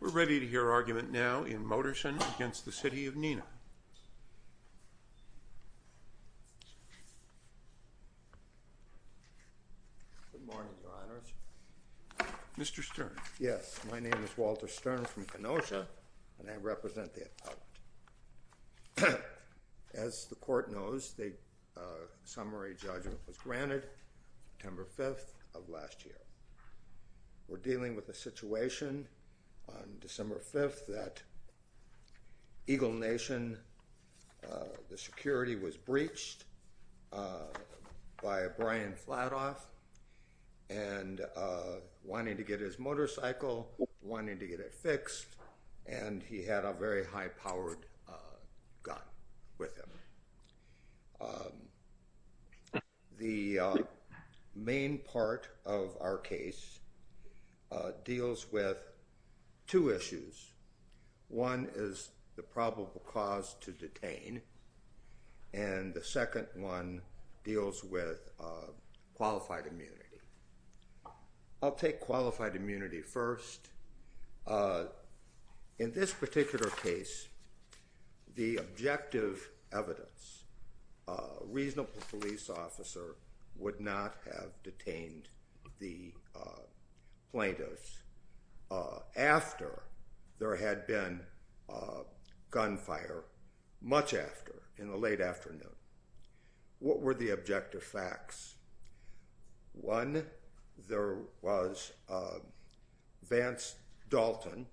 We're ready to hear argument now in Moderson against the City of Neenah. Good morning, your honors. Mr. Stern. Yes, my name is Walter Stern from Kenosha, and I represent the appellate. As the court knows, the summary judgment was granted September 5th of last year. We're dealing with a situation on December 5th that Eagle Nation, the security was breached by Brian Flatoff, and wanting to get his motorcycle, wanting to get it fixed, and he had a very high-powered gun with him. The main part of our case deals with two issues. One is the probable cause to detain, and the second one deals with qualified immunity. I'll take qualified immunity first. In this particular case, the objective evidence, a reasonable police officer would not have detained the plaintiffs after there had been gunfire, much after, in the late afternoon. What were the objective facts? One, there was Vance Dalton,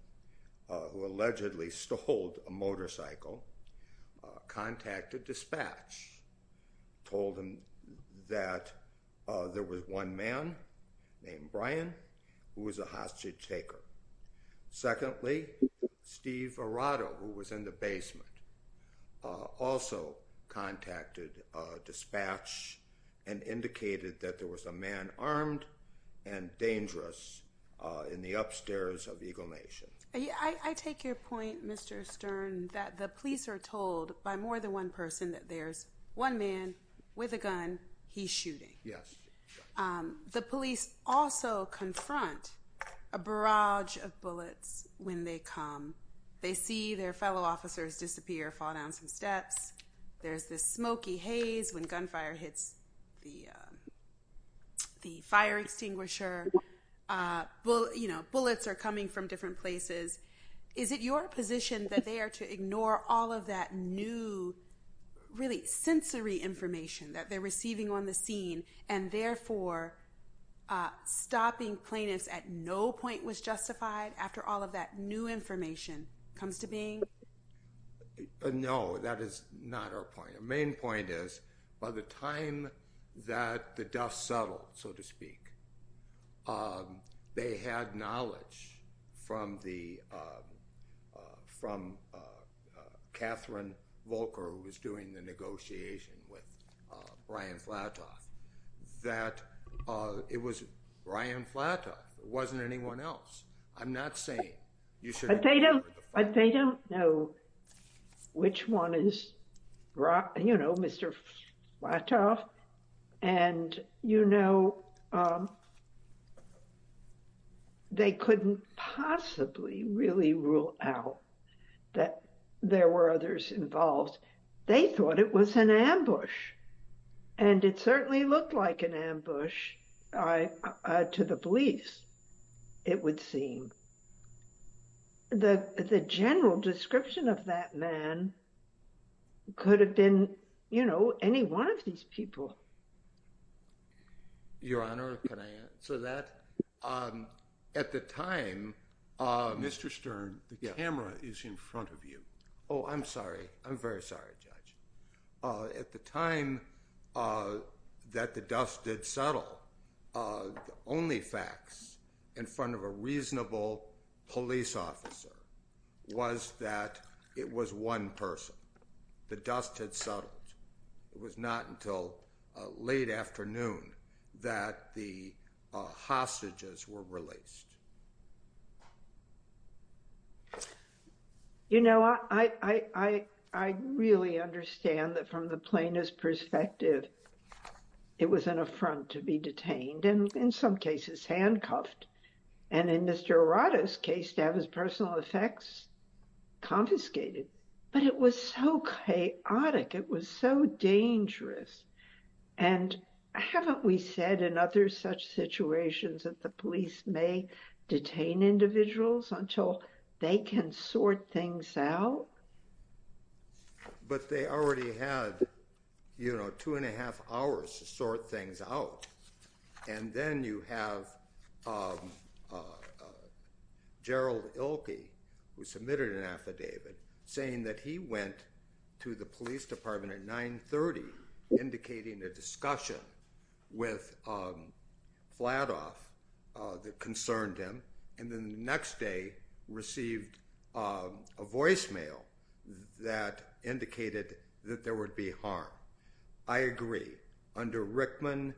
who allegedly stole a motorcycle, contacted dispatch, told them that there was one man named Brian who was a hostage taker. Secondly, Steve Arado, who was in the basement, also contacted dispatch and indicated that there was a man armed and dangerous in the upstairs of Eagle Nation. I take your point, Mr. Stern, that the police are told by more than one person that there's one man with a gun, he's shooting. Yes. The police also confront a barrage of bullets when they come. They see their fellow officers disappear, fall down some steps. There's this smoky haze when gunfire hits the fire extinguisher. Bullets are coming from different places. Is it your position that they are to ignore all of that new, really sensory information that they're receiving on the scene, and therefore stopping plaintiffs at no point was justified after all of that new information comes to being? No, that is not our point. Their main point is, by the time that the dust settled, so to speak, they had knowledge from Catherine Volker, who was doing the negotiation with Brian Flatoff, that it was Brian Flatoff. It wasn't anyone else. But they don't know which one is, you know, Mr. Flatoff. And, you know, they couldn't possibly really rule out that there were others involved. They thought it was an ambush, and it certainly looked like an ambush to the police, it would seem. The general description of that man could have been, you know, any one of these people. Your Honor, can I answer that? At the time, Mr. Stern, the camera is in front of you. Oh, I'm sorry. I'm very sorry, Judge. At the time that the dust did settle, the only facts in front of a reasonable police officer was that it was one person. The dust had settled. It was not until late afternoon that the hostages were released. You know, I really understand that from the plaintiff's perspective, it was an affront to be detained and in some cases handcuffed. And in Mr. Arado's case, to have his personal effects confiscated. But it was so chaotic. It was so dangerous. And haven't we said in other such situations that the police may detain individuals until they can sort things out? But they already had, you know, two and a half hours to sort things out. And then you have Gerald Ilkey, who submitted an affidavit, saying that he went to the police department at 930, indicating a discussion with Fladoff that concerned him. And then the next day received a voicemail that indicated that there would be harm. I agree. Under Rickman,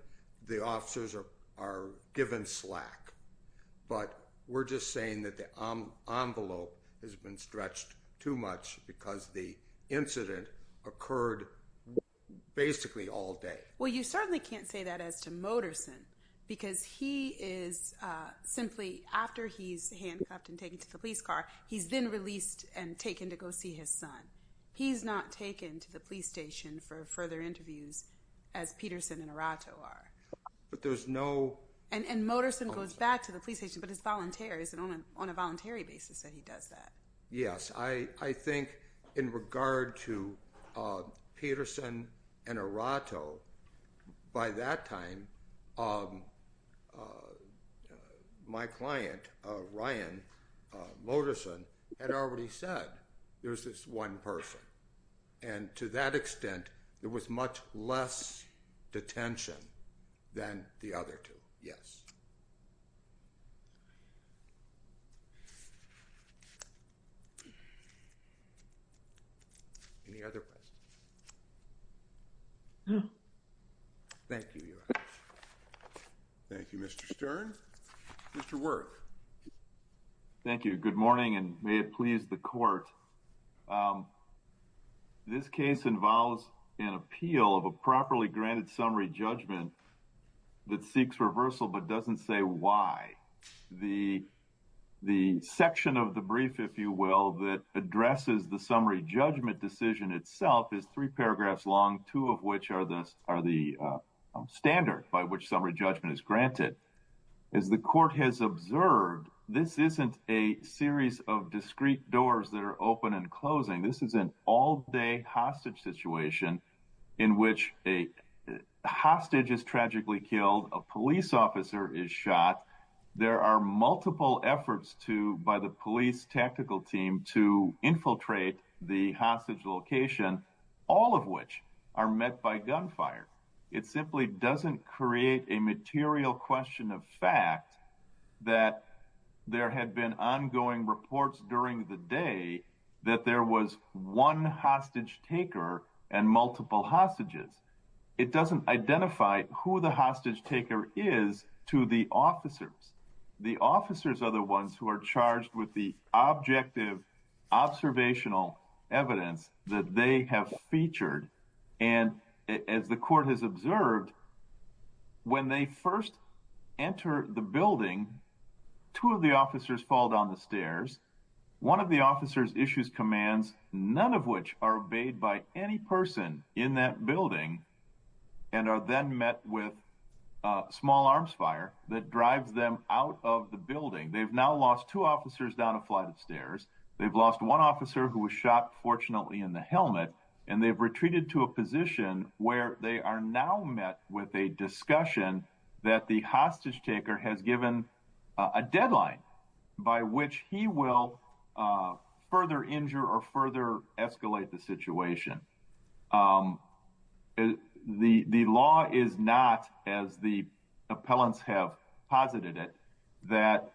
the officers are given slack. But we're just saying that the envelope has been stretched too much because the incident occurred basically all day. Well, you certainly can't say that as to Moterson. Because he is simply, after he's handcuffed and taken to the police car, he's then released and taken to go see his son. He's not taken to the police station for further interviews, as Peterson and Arado are. But there's no— And Moterson goes back to the police station, but he's a volunteer. It's on a voluntary basis that he does that. Yes. I think in regard to Peterson and Arado, by that time, my client, Ryan Moterson, had already said there's this one person. And to that extent, there was much less detention than the other two. Yes. Any other questions? No. Thank you, Your Honor. Thank you, Mr. Stern. Mr. Wirth. Thank you. Good morning, and may it please the Court. This case involves an appeal of a properly granted summary judgment that seeks reversal but doesn't say why. The section of the brief, if you will, that addresses the summary judgment decision itself is three paragraphs long, two of which are the standard by which summary judgment is granted. As the Court has observed, this isn't a series of discrete doors that are open and closing. This is an all-day hostage situation in which a hostage is tragically killed, a police officer is shot. There are multiple efforts by the police tactical team to infiltrate the hostage location, all of which are met by gunfire. It simply doesn't create a material question of fact that there had been ongoing reports during the day that there was one hostage taker and multiple hostages. It doesn't identify who the hostage taker is to the officers. The officers are the ones who are charged with the objective observational evidence that they have featured. And as the Court has observed, when they first enter the building, two of the officers fall down the stairs. One of the officers issues commands, none of which are obeyed by any person in that building, and are then met with small arms fire that drives them out of the building. They've now lost two officers down a flight of stairs, they've lost one officer who was shot fortunately in the helmet, and they've retreated to a position where they are now met with a discussion that the hostage taker has given a deadline by which he will further injure or further escalate the situation. The law is not, as the appellants have posited it, that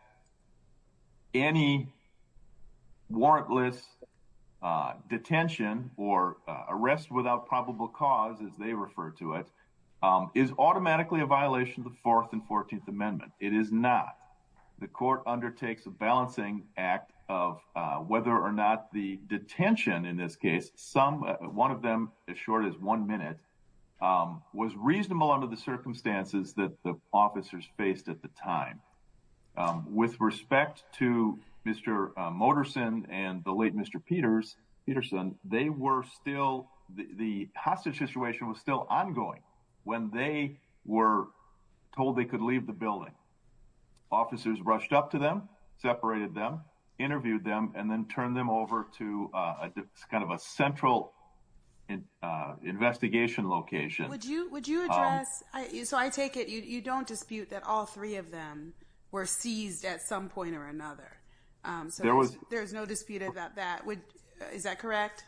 any warrantless detention or arrest without probable cause, as they refer to it, is automatically a violation of the Fourth and Fourteenth Amendment. It is not. The Court undertakes a balancing act of whether or not the detention, in this case, one of them as short as one minute, was reasonable under the circumstances that the officers faced at the time. With respect to Mr. Moterson and the late Mr. Peterson, they were still, the hostage situation was still ongoing when they were told they could leave the building. Officers rushed up to them, separated them, interviewed them, and then turned them over to kind of a central investigation location. Would you address, so I take it you don't dispute that all three of them were seized at some point or another? There's no dispute about that. Is that correct?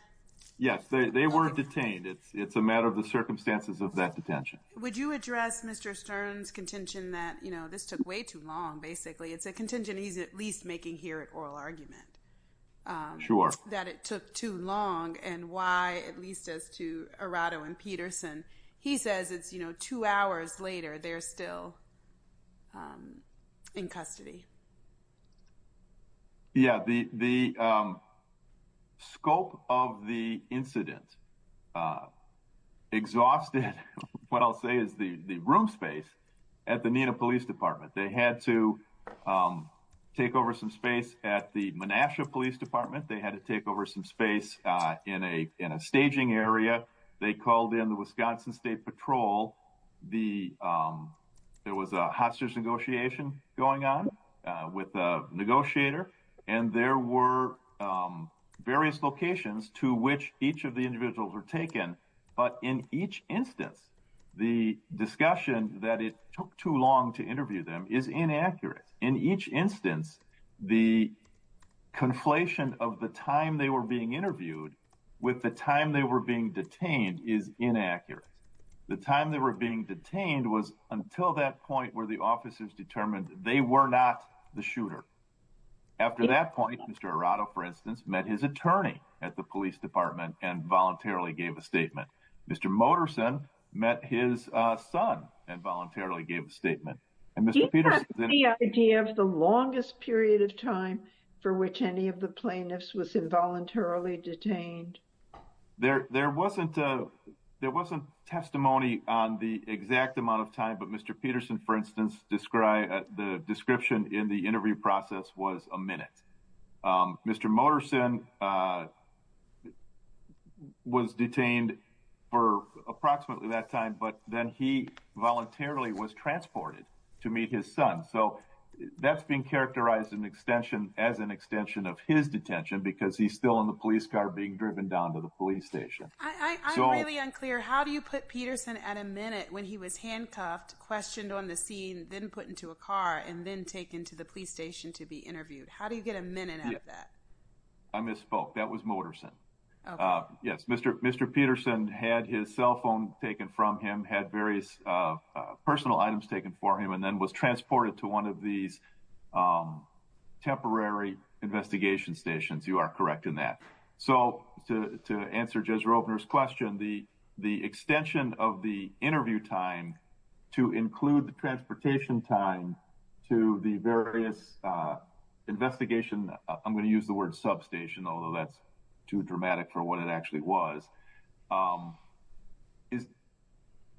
Yes, they were detained. It's a matter of the circumstances of that detention. Would you address Mr. Stern's contention that, you know, this took way too long, basically. It's a contention he's at least making here at oral argument. Sure. That it took too long and why, at least as to Arado and Peterson, he says it's, you know, two hours later, they're still in custody. Yeah, the scope of the incident exhausted what I'll say is the room space at the Nina Police Department. They had to take over some space at the Manassas Police Department. They had to take over some space in a staging area. They called in the Wisconsin State Patrol. There was a hostage negotiation going on with the negotiator, and there were various locations to which each of the individuals were taken. But in each instance, the discussion that it took too long to interview them is inaccurate. In each instance, the conflation of the time they were being interviewed with the time they were being detained is inaccurate. The time they were being detained was until that point where the officers determined they were not the shooter. After that point, Mr. Arado, for instance, met his attorney at the police department and voluntarily gave a statement. Mr. Moterson met his son and voluntarily gave a statement. Do you have any idea of the longest period of time for which any of the plaintiffs was involuntarily detained? There wasn't testimony on the exact amount of time, but Mr. Peterson, for instance, described the description in the interview process was a minute. Mr. Moterson was detained for approximately that time, but then he voluntarily was transported to meet his son. So that's being characterized as an extension of his detention because he's still in the police car being driven down to the police station. I'm really unclear. How do you put Peterson at a minute when he was handcuffed, questioned on the scene, then put into a car, and then taken to the police station to be interviewed? How do you get a minute out of that? I misspoke. That was Moterson. Yes, Mr. Peterson had his cell phone taken from him, had various personal items taken from him, and then was transported to one of these temporary investigation stations. You are correct in that. So to answer Jez Roepner's question, the extension of the interview time to include the transportation time to the various investigation, I'm going to use the word substation, although that's too dramatic for what it actually was,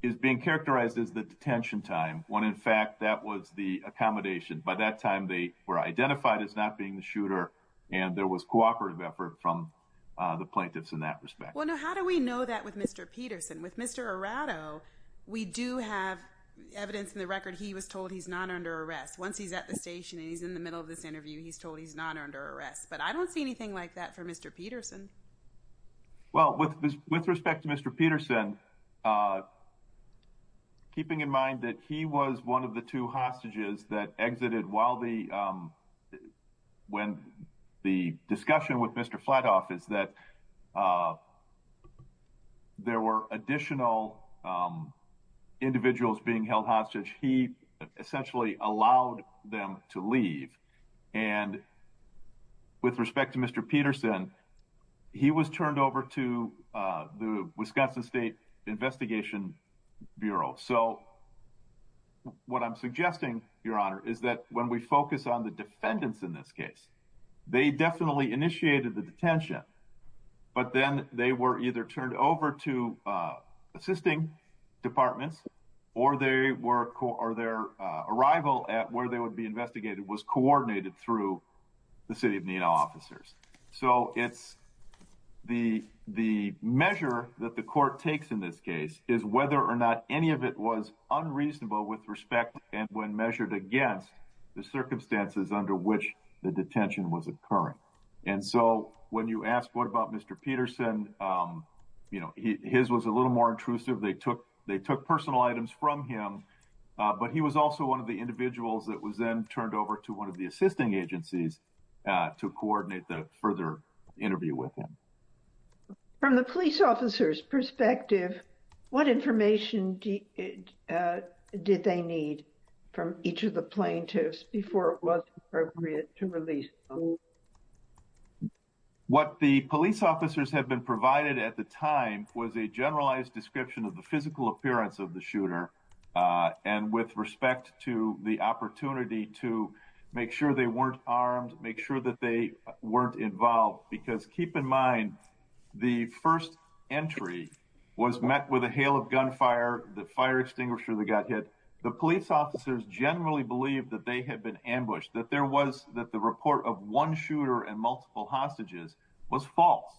is being characterized as the detention time, when in fact that was the accommodation. By that time, they were identified as not being the shooter, and there was cooperative effort from the plaintiffs in that respect. Well, now, how do we know that with Mr. Peterson? With Mr. Arado, we do have evidence in the record he was told he's not under arrest. Once he's at the station and he's in the middle of this interview, he's told he's not under arrest. But I don't see anything like that for Mr. Peterson. Well, with respect to Mr. Peterson, keeping in mind that he was one of the two hostages that exited while the discussion with Mr. Flatoff is that there were additional individuals being held hostage, he essentially allowed them to leave. And with respect to Mr. Peterson, he was turned over to the Wisconsin State Investigation Bureau. So what I'm suggesting, Your Honor, is that when we focus on the defendants in this case, they definitely initiated the detention. But then they were either turned over to assisting departments or their arrival at where they would be investigated was coordinated through the city of Nenow officers. So it's the the measure that the court takes in this case is whether or not any of it was unreasonable with respect and when measured against the circumstances under which the detention was occurring. And so when you ask what about Mr. Peterson, you know, his was a little more intrusive. They took they took personal items from him. But he was also one of the individuals that was then turned over to one of the assisting agencies to coordinate the further interview with him. From the police officers perspective, what information did they need from each of the plaintiffs before it was appropriate to release? What the police officers have been provided at the time was a generalized description of the physical appearance of the shooter. And with respect to the opportunity to make sure they weren't armed, make sure that they weren't involved, because keep in mind, the first entry was met with a hail of gunfire. The fire extinguisher that got hit. The police officers generally believe that they had been ambushed, that there was that the report of one shooter and multiple hostages was false,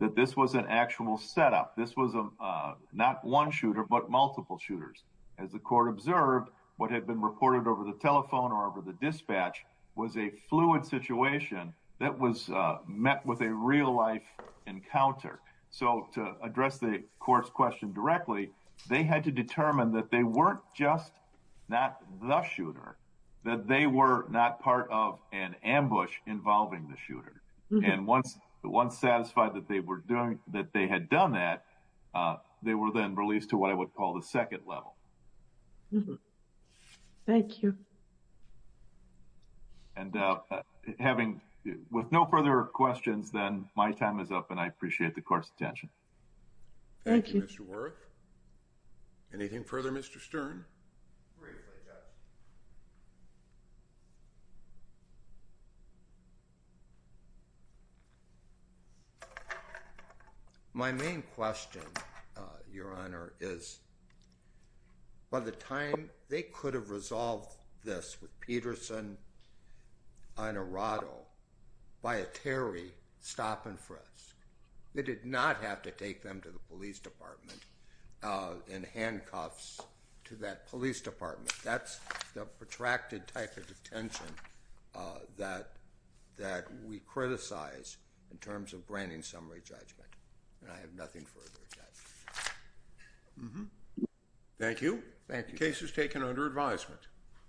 that this was an actual setup. This was not one shooter, but multiple shooters. As the court observed, what had been reported over the telephone or over the dispatch was a fluid situation that was met with a real life encounter. So to address the court's question directly, they had to determine that they weren't just not the shooter, that they were not part of an ambush involving the shooter. And once satisfied that they had done that, they were then released to what I would call the second level. Thank you. And with no further questions, then my time is up and I appreciate the court's attention. Thank you, Mr. Worth. Briefly, Judge. My main question, Your Honor, is by the time they could have resolved this with Peterson and Arado by a Terry stop and frisk, they did not have to take them to the police department in handcuffs to that police department. That's the protracted type of detention that we criticize in terms of branding summary judgment. And I have nothing further to add. Thank you. The case is taken under advisement.